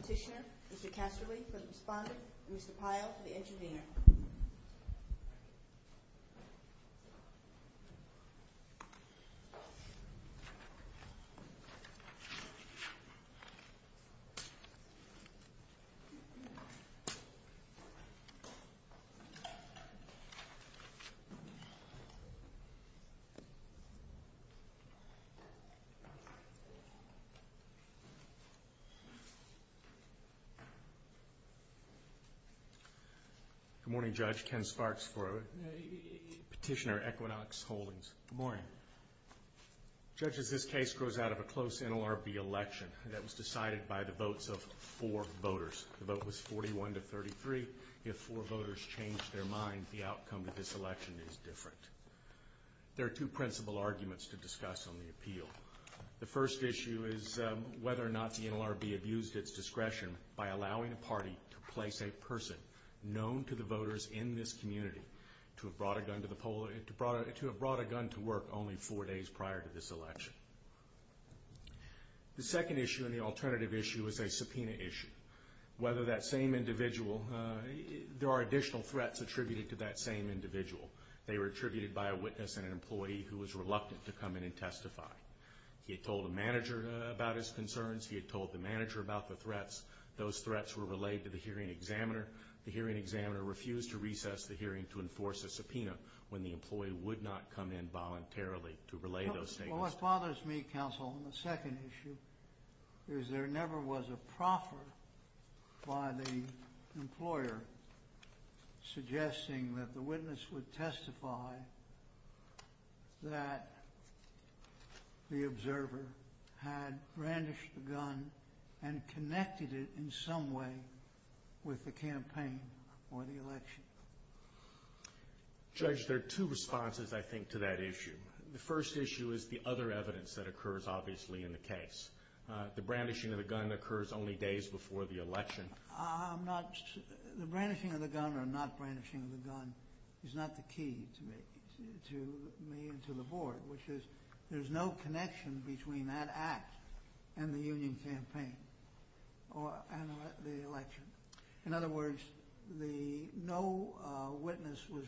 Petitioner, Mr. Casterly for the respondent, and Mr. Pyle for the intervener. Good morning, Judge. Ken Sparks for Petitioner, Equinox Holdings. Good morning. Judges, this case grows out of a close NLRB election that was decided by the votes of four voters. The change their mind, the outcome of this election is different. There are two principal arguments to discuss on the appeal. The first issue is whether or not the NLRB abused its discretion by allowing a party to place a person known to the voters in this community to have brought a gun to work only four days prior to this election. The second issue and the alternative issue is a subpoena issue. Whether that same individual, there are additional threats attributed to that same individual. They were attributed by a witness and an employee who was reluctant to come in and testify. He had told the manager about his concerns. He had told the manager about the threats. Those threats were relayed to the hearing examiner. The hearing examiner refused to recess the hearing to enforce a subpoena when the employee would not come in voluntarily to relay those statements. What bothers me, counsel, on the second issue is there never was a proffer by the employer suggesting that the witness would testify that the observer had brandished the gun and connected it in some way with the campaign or the election. Judge, there are two responses, I think, to that issue. The first issue is the other evidence that occurs, obviously, in the case. The brandishing of the gun occurs only days before the election. The brandishing of the gun or not brandishing of the gun is not the key to me and to the board, which is there's no connection between that act and the union campaign or the election. In other words, no witness was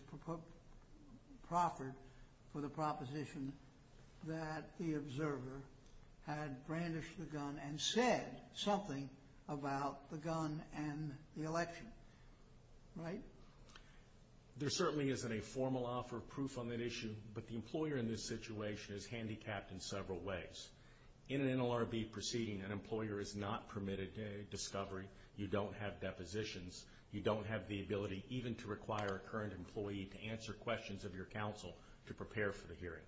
proffered for the proposition that the observer had brandished the gun and said something about the gun and the election, right? There certainly isn't a formal offer of proof on that issue, but the employer in this situation is handicapped in several ways. In an NLRB proceeding, an employer is not permitted discovery. You don't have depositions. You don't have the ability even to require a current employee to answer questions of your counsel to prepare for the hearing.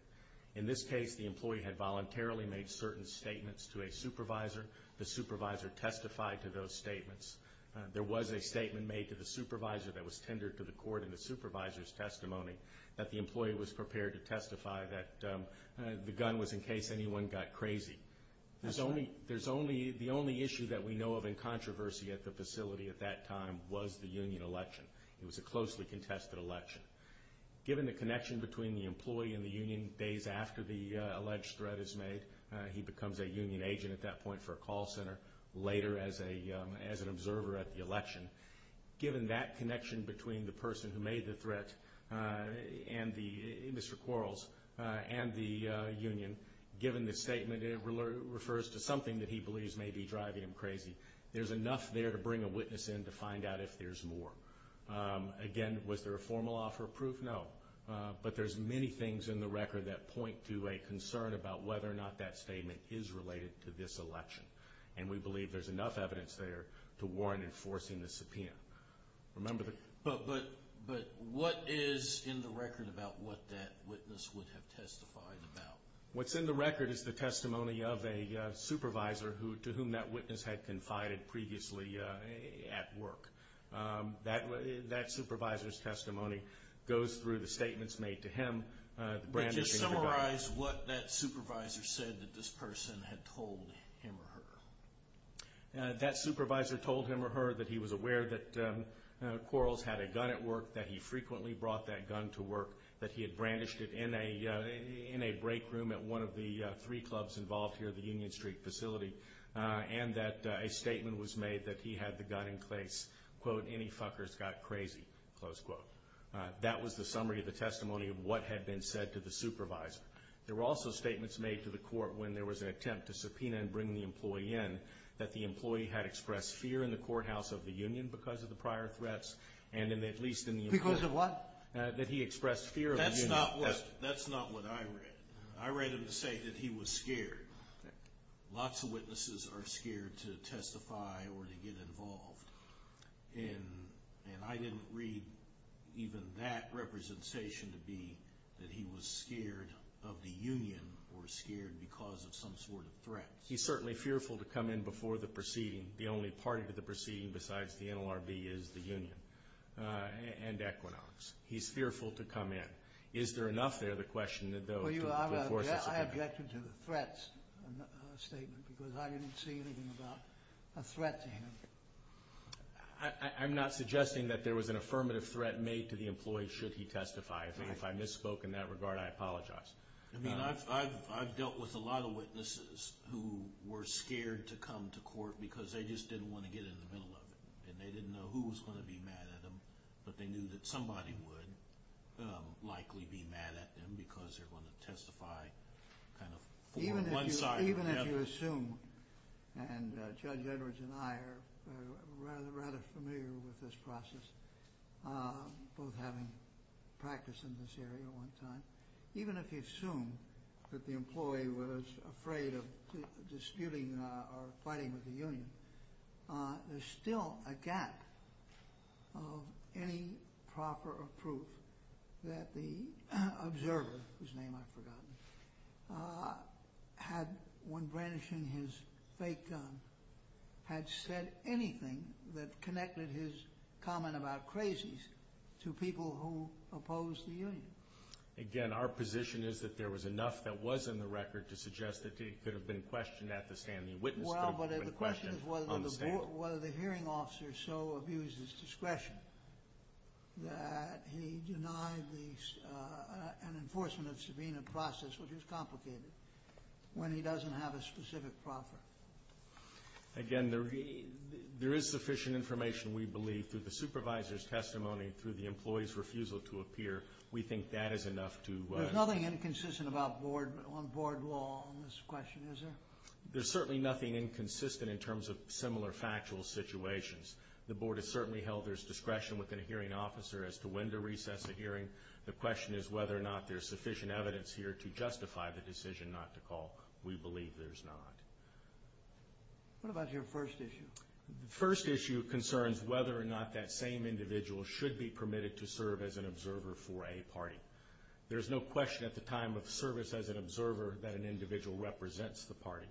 In this case, the employee had voluntarily made certain statements to a supervisor. The supervisor testified to those statements. There was a statement made to the supervisor that was tendered to the court in the supervisor's testimony that the employee was prepared to testify that the gun was in case anyone got crazy. The only issue that we know of in controversy at the facility at that time was the union election. It was a closely contested election. Given the connection between the employee and the union days after the alleged threat is made, he becomes a union agent at that point for a call center, later as an observer at the election. Given that connection between the person who made the threat, Mr. Quarles, and the union, given the statement, it refers to something that he believes may be driving him crazy. There's enough there to bring a witness in to find out if there's more. Again, was there a formal offer of proof? No. But there's many things in the record that point to a concern about whether or not that statement is related to this election. And we believe there's enough evidence there to warrant enforcing the subpoena. Remember the... But what is in the record about what that witness would have testified about? What's in the record is the testimony of a supervisor to whom that witness had confided previously at work. That supervisor's testimony goes through the statements made to him, the brandishing of the gun. But just summarize what that supervisor said that this person had told him or her. That supervisor told him or her that he was aware that Quarles had a gun at work, that he frequently brought that gun to work, that he had brandished it in a break room at one of the three clubs involved here at the Union Street facility, and that a statement was made that he had the gun in place, quote, any fuckers got crazy, close quote. That was the summary of the testimony of what had been said to the supervisor. There were also statements made to the court when there was an attempt to subpoena and bring the employee in, that the employee had expressed fear in the courthouse of the union because of the prior threats, and at least in the opinion that he expressed fear of the union. That's not what I read. I read him to say that he was scared. Lots of witnesses are scared to testify or to get involved, and I didn't read even that representation to be that he was scared of the union or scared because of some sort of threat. He's certainly fearful to come in before the proceeding. The only party to the proceeding besides the NLRB is the union and Equinox. He's fearful to come in. Is there enough there, the question, though, to force a subpoena? I objected to the threats statement because I didn't see anything about a threat to him. I'm not suggesting that there was an affirmative threat made to the employee should he testify. If I misspoke in that regard, I apologize. I mean, I've dealt with a lot of witnesses who were scared to come to court because they just didn't want to get in the middle of it, and they didn't know who was going to be mad at them, but they knew that somebody would likely be mad at them because they're going to testify kind of for one side or the other. Even if you assume, and Judge Edwards and I are rather familiar with this process, both having practiced in this area at one time, even if you assume that the employee was afraid of disputing or fighting with the union, there's still a gap of any proper proof that the observer, whose name I've forgotten, had, when brandishing his fake gun, had said anything that connected his comment about crazies to people who opposed the union. Again, our position is that there was enough that was in the record to suggest that he could have been questioned at the stand. The witness could have been questioned on the stand. Well, but the question is whether the hearing officer so abused his discretion that he denied an enforcement of subpoena process, which is complicated, when he doesn't have a specific proffer. Again, there is sufficient information, we believe, through the supervisor's testimony, through the employee's refusal to appear. We think that is enough to... There's nothing inconsistent on board law on this question, is there? There's certainly nothing inconsistent in terms of similar factual situations. The board has certainly held their discretion within a hearing officer as to when to recess a hearing. The question is whether or not there's sufficient evidence here to justify the decision not to call. We believe there's not. What about your first issue? The first issue concerns whether or not that same individual should be permitted to serve as an observer for a party. There's no question at the time of service as an observer that an individual represents the party.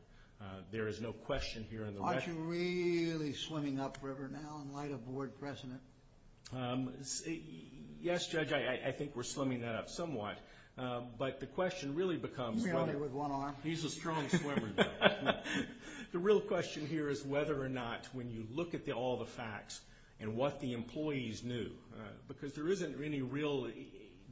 There is no question here in the... Aren't you really swimming up river now in light of board precedent? Yes, Judge, I think we're swimming that up somewhat. But the question really becomes... He's merely with one arm. He's a strong swimmer, Judge. The real question here is whether or not when you look at all the facts and what the employees knew, because there isn't any real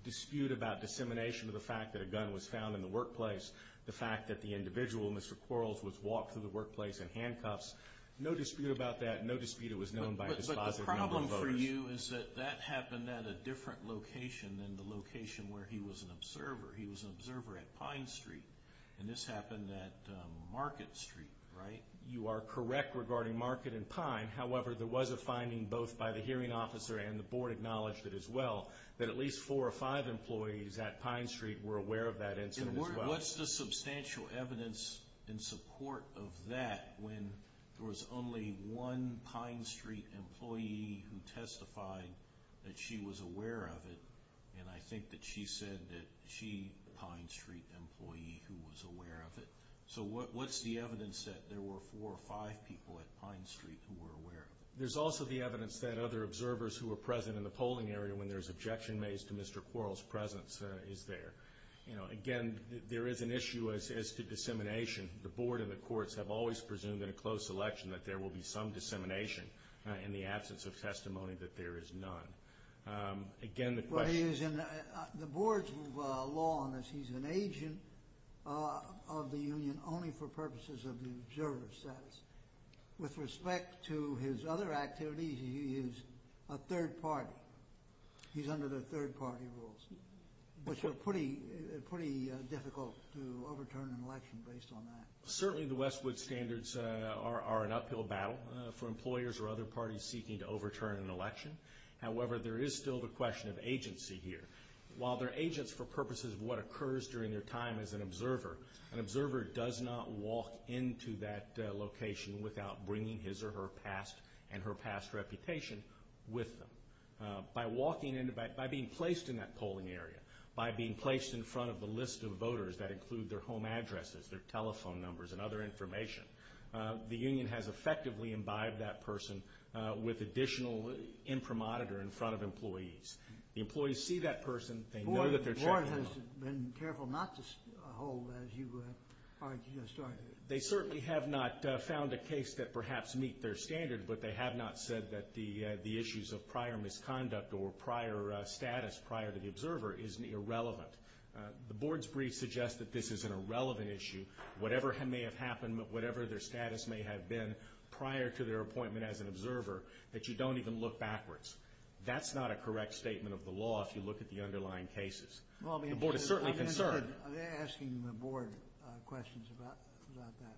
dispute about dissemination of the fact that a gun was found in the workplace, the fact that the individual, Mr. Quarles, was walked through the workplace in handcuffs. No dispute about that. No dispute it was known by a dispositive number of voters. But the problem for you is that that happened at a different location than the location where he was an observer. He was an observer at Pine Street. And this happened at Market Street, right? You are correct regarding Market and Pine. However, there was a finding, both by the hearing officer and the board acknowledged it as well, that at least four or five employees at Pine Street were aware of that incident as well. What's the substantial evidence in support of that when there was only one Pine Street employee who testified that she was aware of it? And I think that she said that she was a Pine Street employee who was aware of it. So what's the evidence that there were four or five people at Pine Street who were aware of it? There's also the evidence that other observers who were present in the polling area when there's objection made to Mr. Quarles' presence is there. Again, there is an issue as to dissemination. The board and the courts have always presumed in a close election that there will be some dissemination in the absence of testimony that there is none. Again, the question... But he is in... The board's law on this, he's an agent of the union only for purposes of the observer's status. With respect to his other activities, he is a third party. He's under the third party rules, which are pretty difficult to overturn in an election based on that. Certainly, the Westwood standards are an uphill battle for employers or other parties seeking to overturn an election. However, there is still the question of agency here. While they're agents for purposes of what occurs during their time as an observer, an observer does not walk into that location without bringing his or her past and her past reputation with them. By being placed in that polling area, by being placed in front of the list of voters that include their home addresses, their telephone numbers, and other information, the union has effectively imbibed that person with additional imprimatur in front of employees. The employees see that person. They know that they're checking them. The board has been careful not to hold as you are just starting. They certainly have not found a case that perhaps meet their standard, but they have not said that the issues of prior misconduct or prior status prior to the observer is irrelevant. The board's brief suggests that this is an irrelevant issue. Whatever may have happened, whatever their status may have been prior to their appointment as an observer, that you don't even look backwards. That's not a correct statement of the law if you look at the underlying cases. The board is certainly concerned. Are they asking the board questions about that?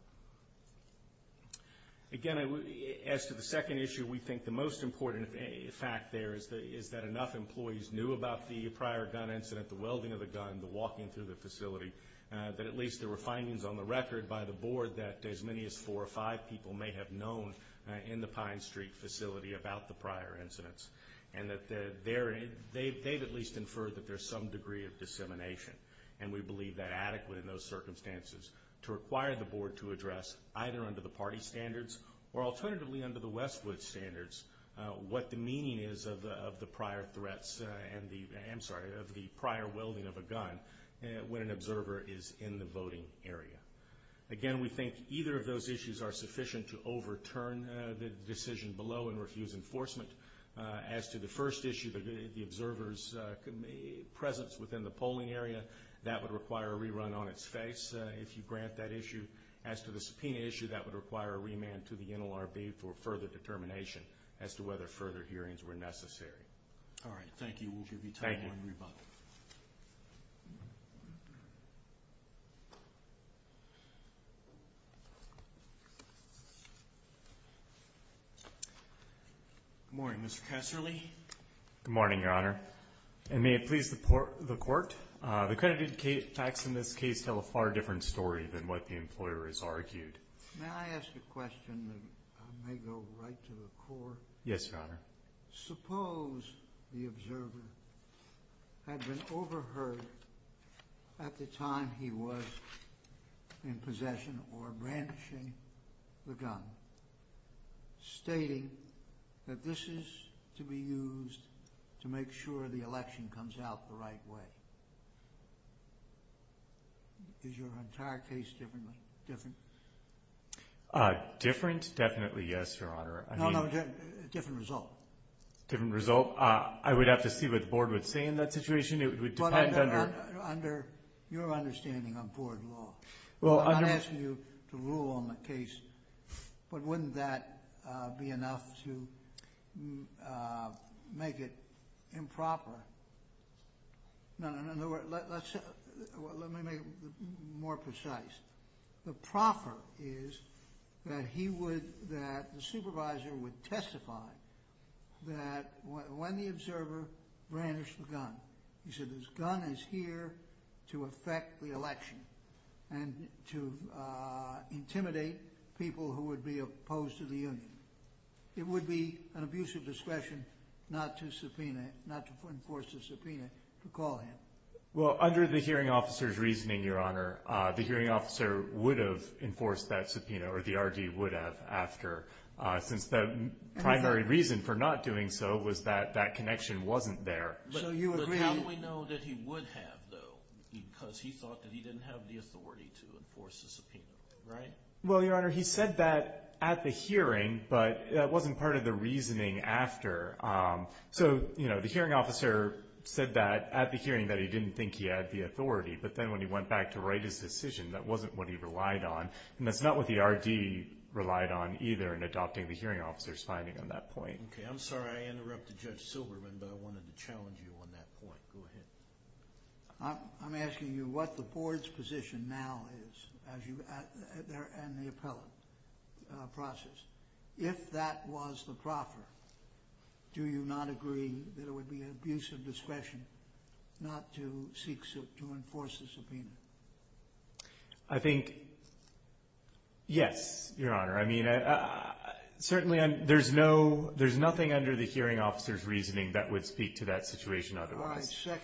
Again, as to the second issue, we think the most important fact there is that enough employees knew about the prior gun incident, the welding of the gun, the walking through the facility, that at least there were findings on the record by the board that as many as four or five people may have known in the Pine Street facility about the prior incidents. They've at least inferred that there's some degree of dissemination, and we believe that adequate in those circumstances to require the board to address either under the party standards or alternatively under the Westwood standards what the meaning is of the prior welding of a gun when an observer is in the voting area. Again, we think either of those issues are sufficient to overturn the decision below and refuse enforcement. As to the first issue, the observer's presence within the polling area, that would require a rerun on its face if you grant that issue. As to the subpoena issue, that would require a remand to the NLRB for further determination as to whether further hearings were necessary. All right. Thank you. We'll give you time to rebut. Thank you. Good morning, Mr. Kesserle. Good morning, Your Honor. And may it please the court, the credited facts in this case tell a far different story than what the employer has argued. Yes, Your Honor. Suppose the observer had been overheard at the time he was in possession or brandishing the gun, stating that this is to be used to make sure the election comes out the right way. Is your entire case different? Different? Definitely yes, Your Honor. No, no. Different result. Different result? I would have to see what the board would say in that situation. It would depend under... Under your understanding on board law. Well, under... I'm not asking you to rule on the case, but wouldn't that be enough to make it improper? No, no, no. Let's... Let me make it more precise. The proffer is that he would... That the supervisor would testify that when the observer brandished the gun, he said, this gun is here to affect the election and to intimidate people who would be opposed to the union. It would be an abuse of discretion not to subpoena, not to enforce a subpoena to call him. Well, under the hearing officer's reasoning, Your Honor, the hearing officer would have enforced that subpoena or the RD would have after since the primary reason for not doing so was that that connection wasn't there. So you agree... But how do we know that he would have though? Because he thought that he didn't have the authority to enforce the subpoena, right? Well, Your Honor, he said that at the hearing, but that wasn't part of the reasoning after. So, you know, the hearing officer said that at the hearing that he didn't think he had the authority, but then when he went back to write his decision, that wasn't what he relied on. And that's not what the RD relied on either in adopting the hearing officer's finding on that point. Okay. I'm sorry I interrupted Judge Silberman, but I wanted to challenge you on that point. Go ahead. I'm asking you what the board's position now is as you... And the appellate process. If that was the proffer, do you not agree that it would be an abuse of discretion not to seek... To enforce the subpoena? I think, yes, Your Honor. I mean, certainly there's no... There's nothing under the hearing officer's reasoning that would speak to that situation otherwise. All right.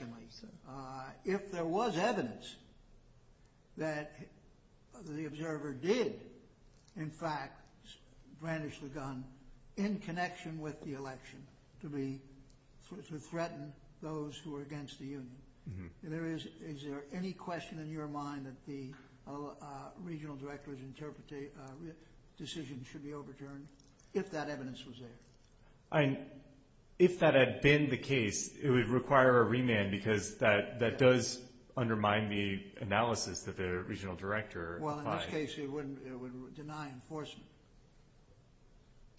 in connection with the election to threaten those who are against the union. Is there any question in your mind that the regional director's decision should be overturned if that evidence was there? If that had been the case, it would require a remand because that does undermine the analysis that the regional director... Well, in this case, it would deny enforcement.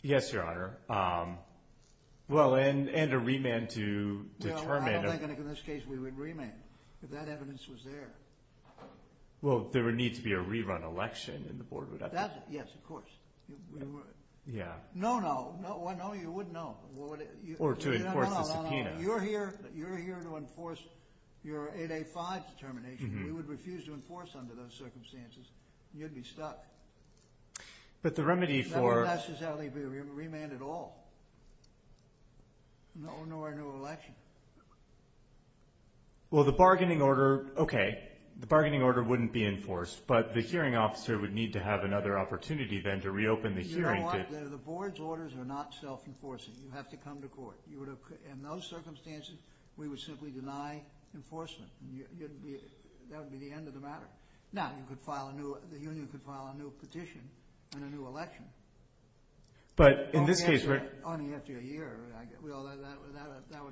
Yes, Your Honor. Well, and a remand to determine... No, I don't think in this case we would remand if that evidence was there. Well, there would need to be a rerun election and the board would have to... Yes, of course. Yeah. No, no. Why no? You wouldn't know. Or to enforce the subpoena. No, no, no. You're here to enforce your 885 determination. You would refuse to enforce under those circumstances. You'd be stuck. But the remedy for... That would necessarily be a remand at all. No or no election. Well, the bargaining order... Okay. The bargaining order wouldn't be enforced, but the hearing officer would need to have another opportunity then to reopen the hearing to... You know what? The board's orders are not self-enforcing. You have to come to court. In those circumstances, we would simply deny enforcement. That would be the end of the matter. Now, the union could file a new petition and a new election. But in this case... Only after a year. That would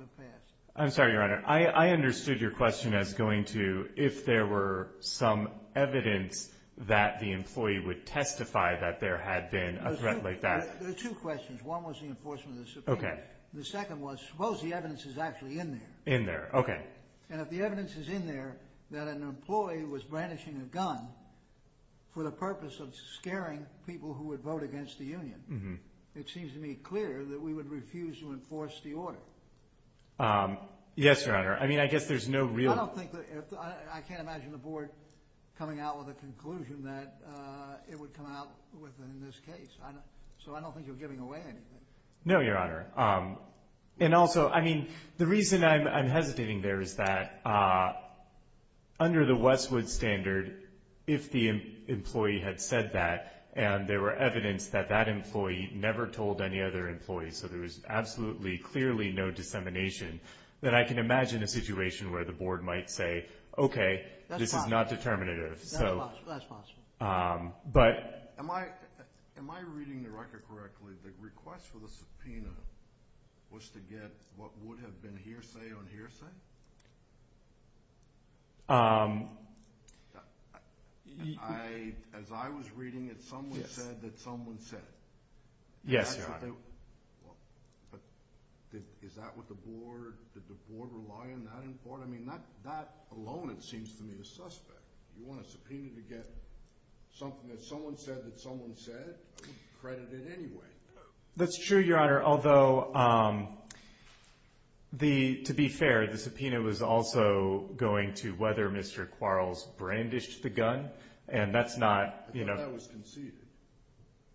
have passed. I'm sorry, Your Honor. I understood your question as going to if there were some evidence that the employee would testify that there had been a threat like that. There are two questions. One was the enforcement of the subpoena. Okay. The second was, suppose the evidence is actually in there. In there. Okay. And if the evidence is in there that an employee was brandishing a gun for the purpose of scaring people who would vote against the union, it seems to me clear that we would refuse to enforce the order. Yes, Your Honor. I mean, I guess there's no real... I don't think that... I can't imagine the board coming out with a conclusion that it would come out with in this case. So I don't think you're giving away anything. No, Your Honor. And also, I mean, the reason I'm hesitating there is that under the Westwood standard, if the employee had said that and there were evidence that that employee never told any other employee, so there was absolutely clearly no dissemination, then I can imagine a situation where the board might say, okay, this is not determinative. That's possible. That's possible. But... Am I reading the record correctly? The request for the subpoena was to get what would have been hearsay on hearsay? As I was reading it, someone said that someone said it. Yes, Your Honor. Is that what the board... Did the board rely on that in part? I mean, that alone, it seems to me, is suspect. You want a subpoena to get something that someone said that someone said? I wouldn't credit it anyway. That's true, Your Honor. Although, to be fair, the subpoena was also going to whether Mr. Quarles brandished the gun, and that's not... I thought that was conceded.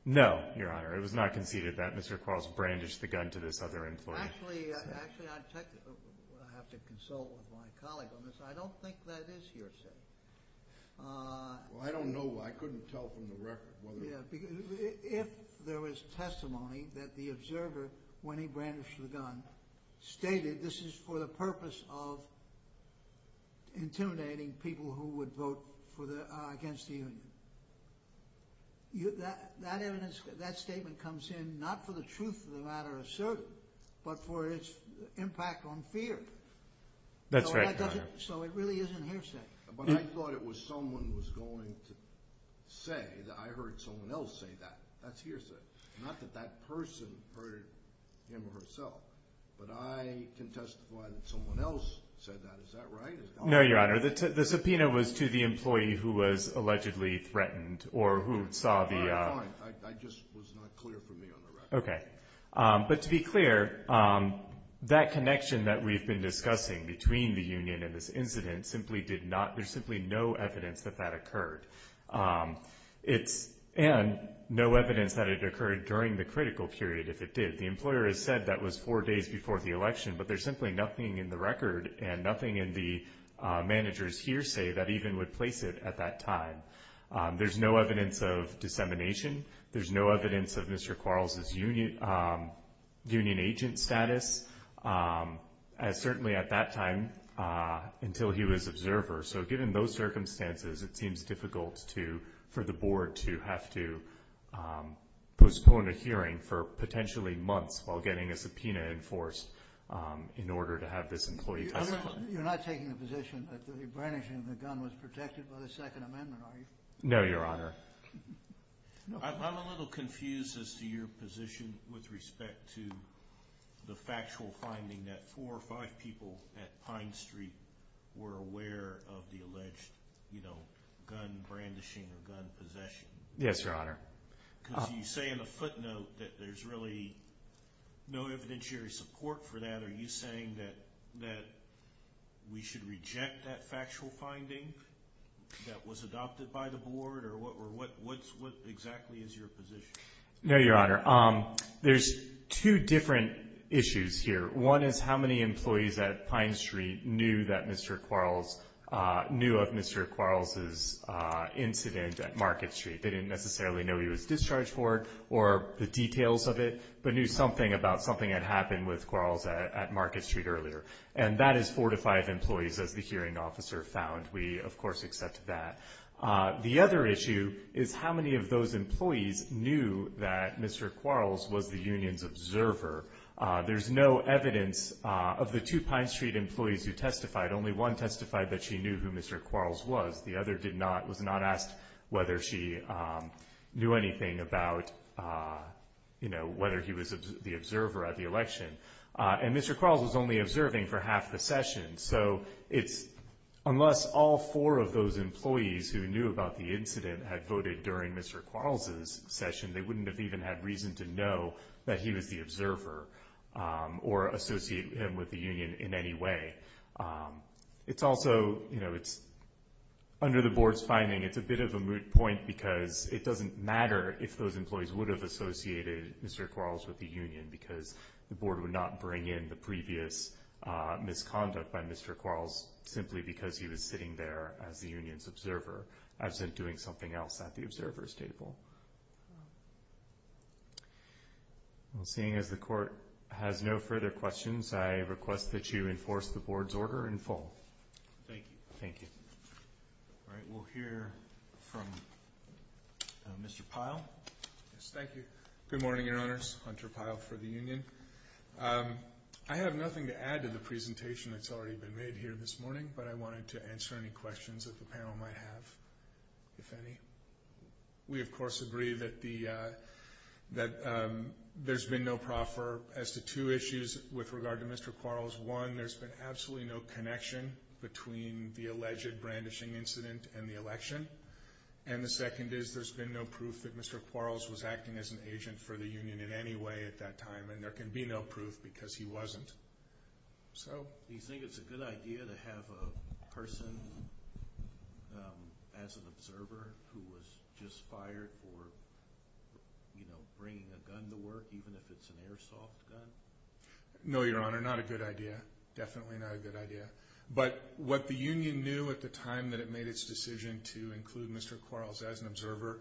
No, Your Honor. It was not conceded that Mr. Quarles brandished the gun to this other employee. Actually, I have to consult with my colleague on this. I don't think that is hearsay. Well, I don't know. I couldn't tell from the record. If there was testimony that the observer, when he brandished the gun, stated this is for the purpose of intimidating people who would vote against the union, that statement comes in not for the truth of the matter of certain, but for its impact on fear. That's right, Your Honor. So it really isn't hearsay. But I thought it was someone was going to say that I heard someone else say that. That's hearsay. Not that that person heard him or herself. But I can testify that someone else said that. Is that right? No, Your Honor. The subpoena was to the employee who was allegedly threatened or who saw the... I just was not clear for me on the record. Okay. But to be clear, that connection that we've been discussing between the two, there's simply no evidence that that occurred. And no evidence that it occurred during the critical period, if it did. The employer has said that was four days before the election, but there's simply nothing in the record and nothing in the manager's hearsay that even would place it at that time. There's no evidence of dissemination. There's no evidence of Mr. Quarles' union agent status, certainly at that time, until he was observer. So given those circumstances, it seems difficult for the board to have to postpone a hearing for potentially months while getting a subpoena enforced in order to have this employee testify. You're not taking the position that the brandishing of the gun was protected by the Second Amendment, are you? No, Your Honor. I'm a little confused as to your position with respect to the factual finding that four or five people at Pine Street were aware of the alleged gun brandishing or gun possession. Yes, Your Honor. Because you say in the footnote that there's really no evidentiary support for that. Are you saying that we should reject that factual finding that was adopted by the board, or what exactly is your position? No, Your Honor. There's two different issues here. One is how many employees at Pine Street knew of Mr. Quarles' incident at Market Street. They didn't necessarily know he was discharged for it or the details of it, but knew something about something that happened with Quarles at Market Street earlier. And that is four to five employees, as the hearing officer found. We, of course, accept that. The other issue is how many of those employees knew that Mr. Quarles was the union's observer. There's no evidence of the two Pine Street employees who testified. Only one testified that she knew who Mr. Quarles was. The other was not asked whether she knew anything about, you know, whether he was the observer at the election. And Mr. Quarles was only observing for half the session. So it's unless all four of those employees who knew about the incident had voted during Mr. Quarles' session, they wouldn't have even had reason to know that he was the observer or associate him with the union in any way. It's also, you know, under the board's finding, it's a bit of a moot point because it doesn't matter if those employees would have associated Mr. Quarles with the union because the board would not be offering in the previous misconduct by Mr. Quarles simply because he was sitting there as the union's observer, as in doing something else at the observer's table. Well, seeing as the court has no further questions, I request that you enforce the board's order in full. Thank you. Thank you. All right. We'll hear from Mr. Pyle. Yes, thank you. Good morning, Your Honors. Hunter Pyle for the union. I have nothing to add to the presentation that's already been made here this morning, but I wanted to answer any questions that the panel might have, if any. We, of course, agree that there's been no proffer as to two issues with regard to Mr. Quarles. One, there's been absolutely no connection between the alleged brandishing incident and the election. And the second is there's been no proof that Mr. Quarles was acting as an agent for the union in any way at that time. And there can be no proof because he wasn't. Do you think it's a good idea to have a person as an observer who was just fired for bringing a gun to work, even if it's an airsoft gun? No, Your Honor, not a good idea. Definitely not a good idea. But what the union knew at the time that it made its decision to include Mr. Quarles as an observer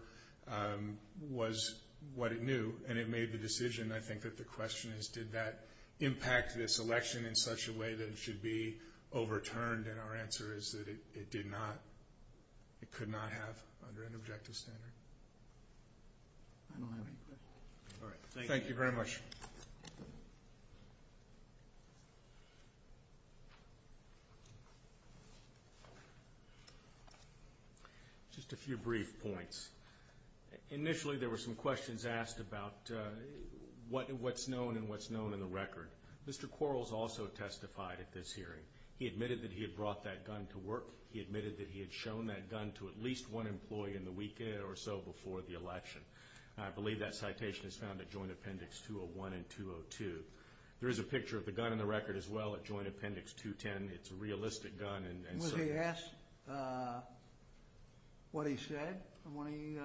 was what it knew, and it made the decision, I think, that the question is, did that impact this election in such a way that it should be overturned? And our answer is that it did not. It could not have under an objective standard. I don't have any questions. All right, thank you. Thank you very much. Just a few brief points. Initially there were some questions asked about what's known and what's known in the record. Mr. Quarles also testified at this hearing. He admitted that he had brought that gun to work. He admitted that he had shown that gun to at least one employee in the week or so before the election. I believe that citation is found at Joint Appendix 201 and 202. There is a picture of the gun in the record as well at Joint Appendix 210. It's a realistic gun. Was he asked what he said when he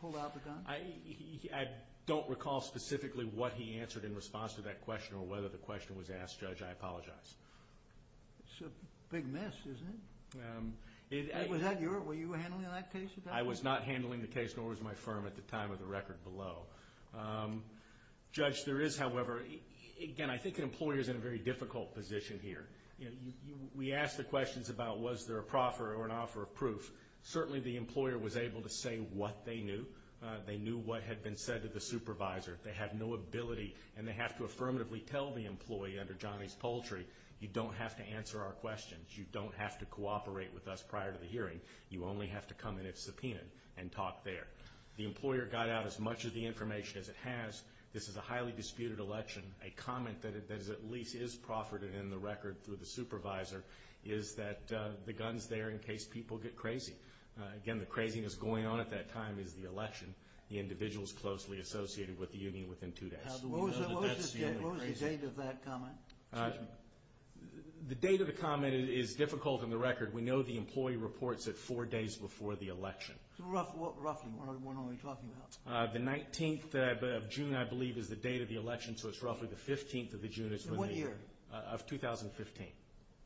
pulled out the gun? I don't recall specifically what he answered in response to that question or whether the question was asked, Judge. I apologize. It's a big mess, isn't it? Was you handling that case? I was not handling the case, nor was my firm at the time of the record below. Judge, there is, however, again, I think an employer is in a very difficult position here. We ask the questions about was there a proffer or an offer of proof. Certainly the employer was able to say what they knew. They knew what had been said to the supervisor. They have no ability, and they have to affirmatively tell the employee under Johnny's paltry, you don't have to answer our questions. You don't have to cooperate with us prior to the hearing. You only have to come in if subpoenaed and talk there. The employer got out as much of the information as it has. This is a highly disputed election. A comment that at least is proffered in the record through the supervisor is that the gun's there in case people get crazy. Again, the craziness going on at that time is the election. The individual is closely associated with the union within two days. What was the date of that comment? The date of the comment is difficult in the record. We know the employee reports it four days before the election. Roughly, what are we talking about? The 19th of June, I believe, is the date of the election, so it's roughly the 15th of June of 2015.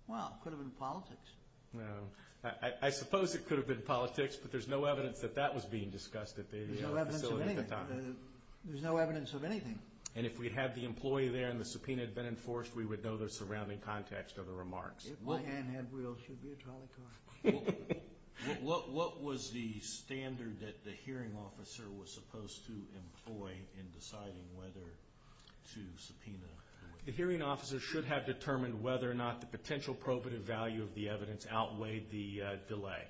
Wow, it could have been politics. I suppose it could have been politics, but there's no evidence that that was being discussed at the facility at the time. There's no evidence of anything. If we had the employee there and the subpoena had been enforced, we would know the surrounding context of the remarks. If my hand had wheels, she'd be a trolley car. What was the standard that the hearing officer was supposed to employ in deciding whether to subpoena? The hearing officer should have determined whether or not the potential probative value of the evidence outweighed the delay.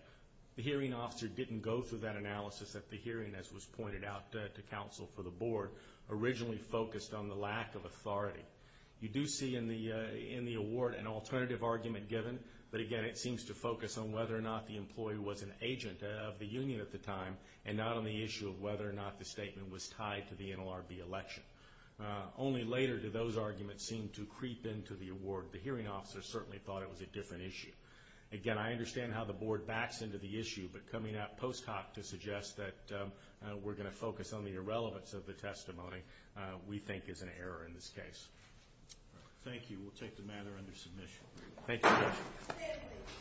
The hearing officer didn't go through that analysis at the hearing, as was pointed out to counsel for the board, originally focused on the lack of authority. You do see in the award an alternative argument given, but again it seems to focus on whether or not the employee was an agent of the union at the time and not on the issue of whether or not the statement was tied to the NLRB election. Only later did those arguments seem to creep into the award. The hearing officer certainly thought it was a different issue. Again, I understand how the board backs into the issue, but coming out post hoc to suggest that we're going to focus on the irrelevance of the testimony, we think is an error in this case. Thank you. We'll take the matter under submission. Thank you.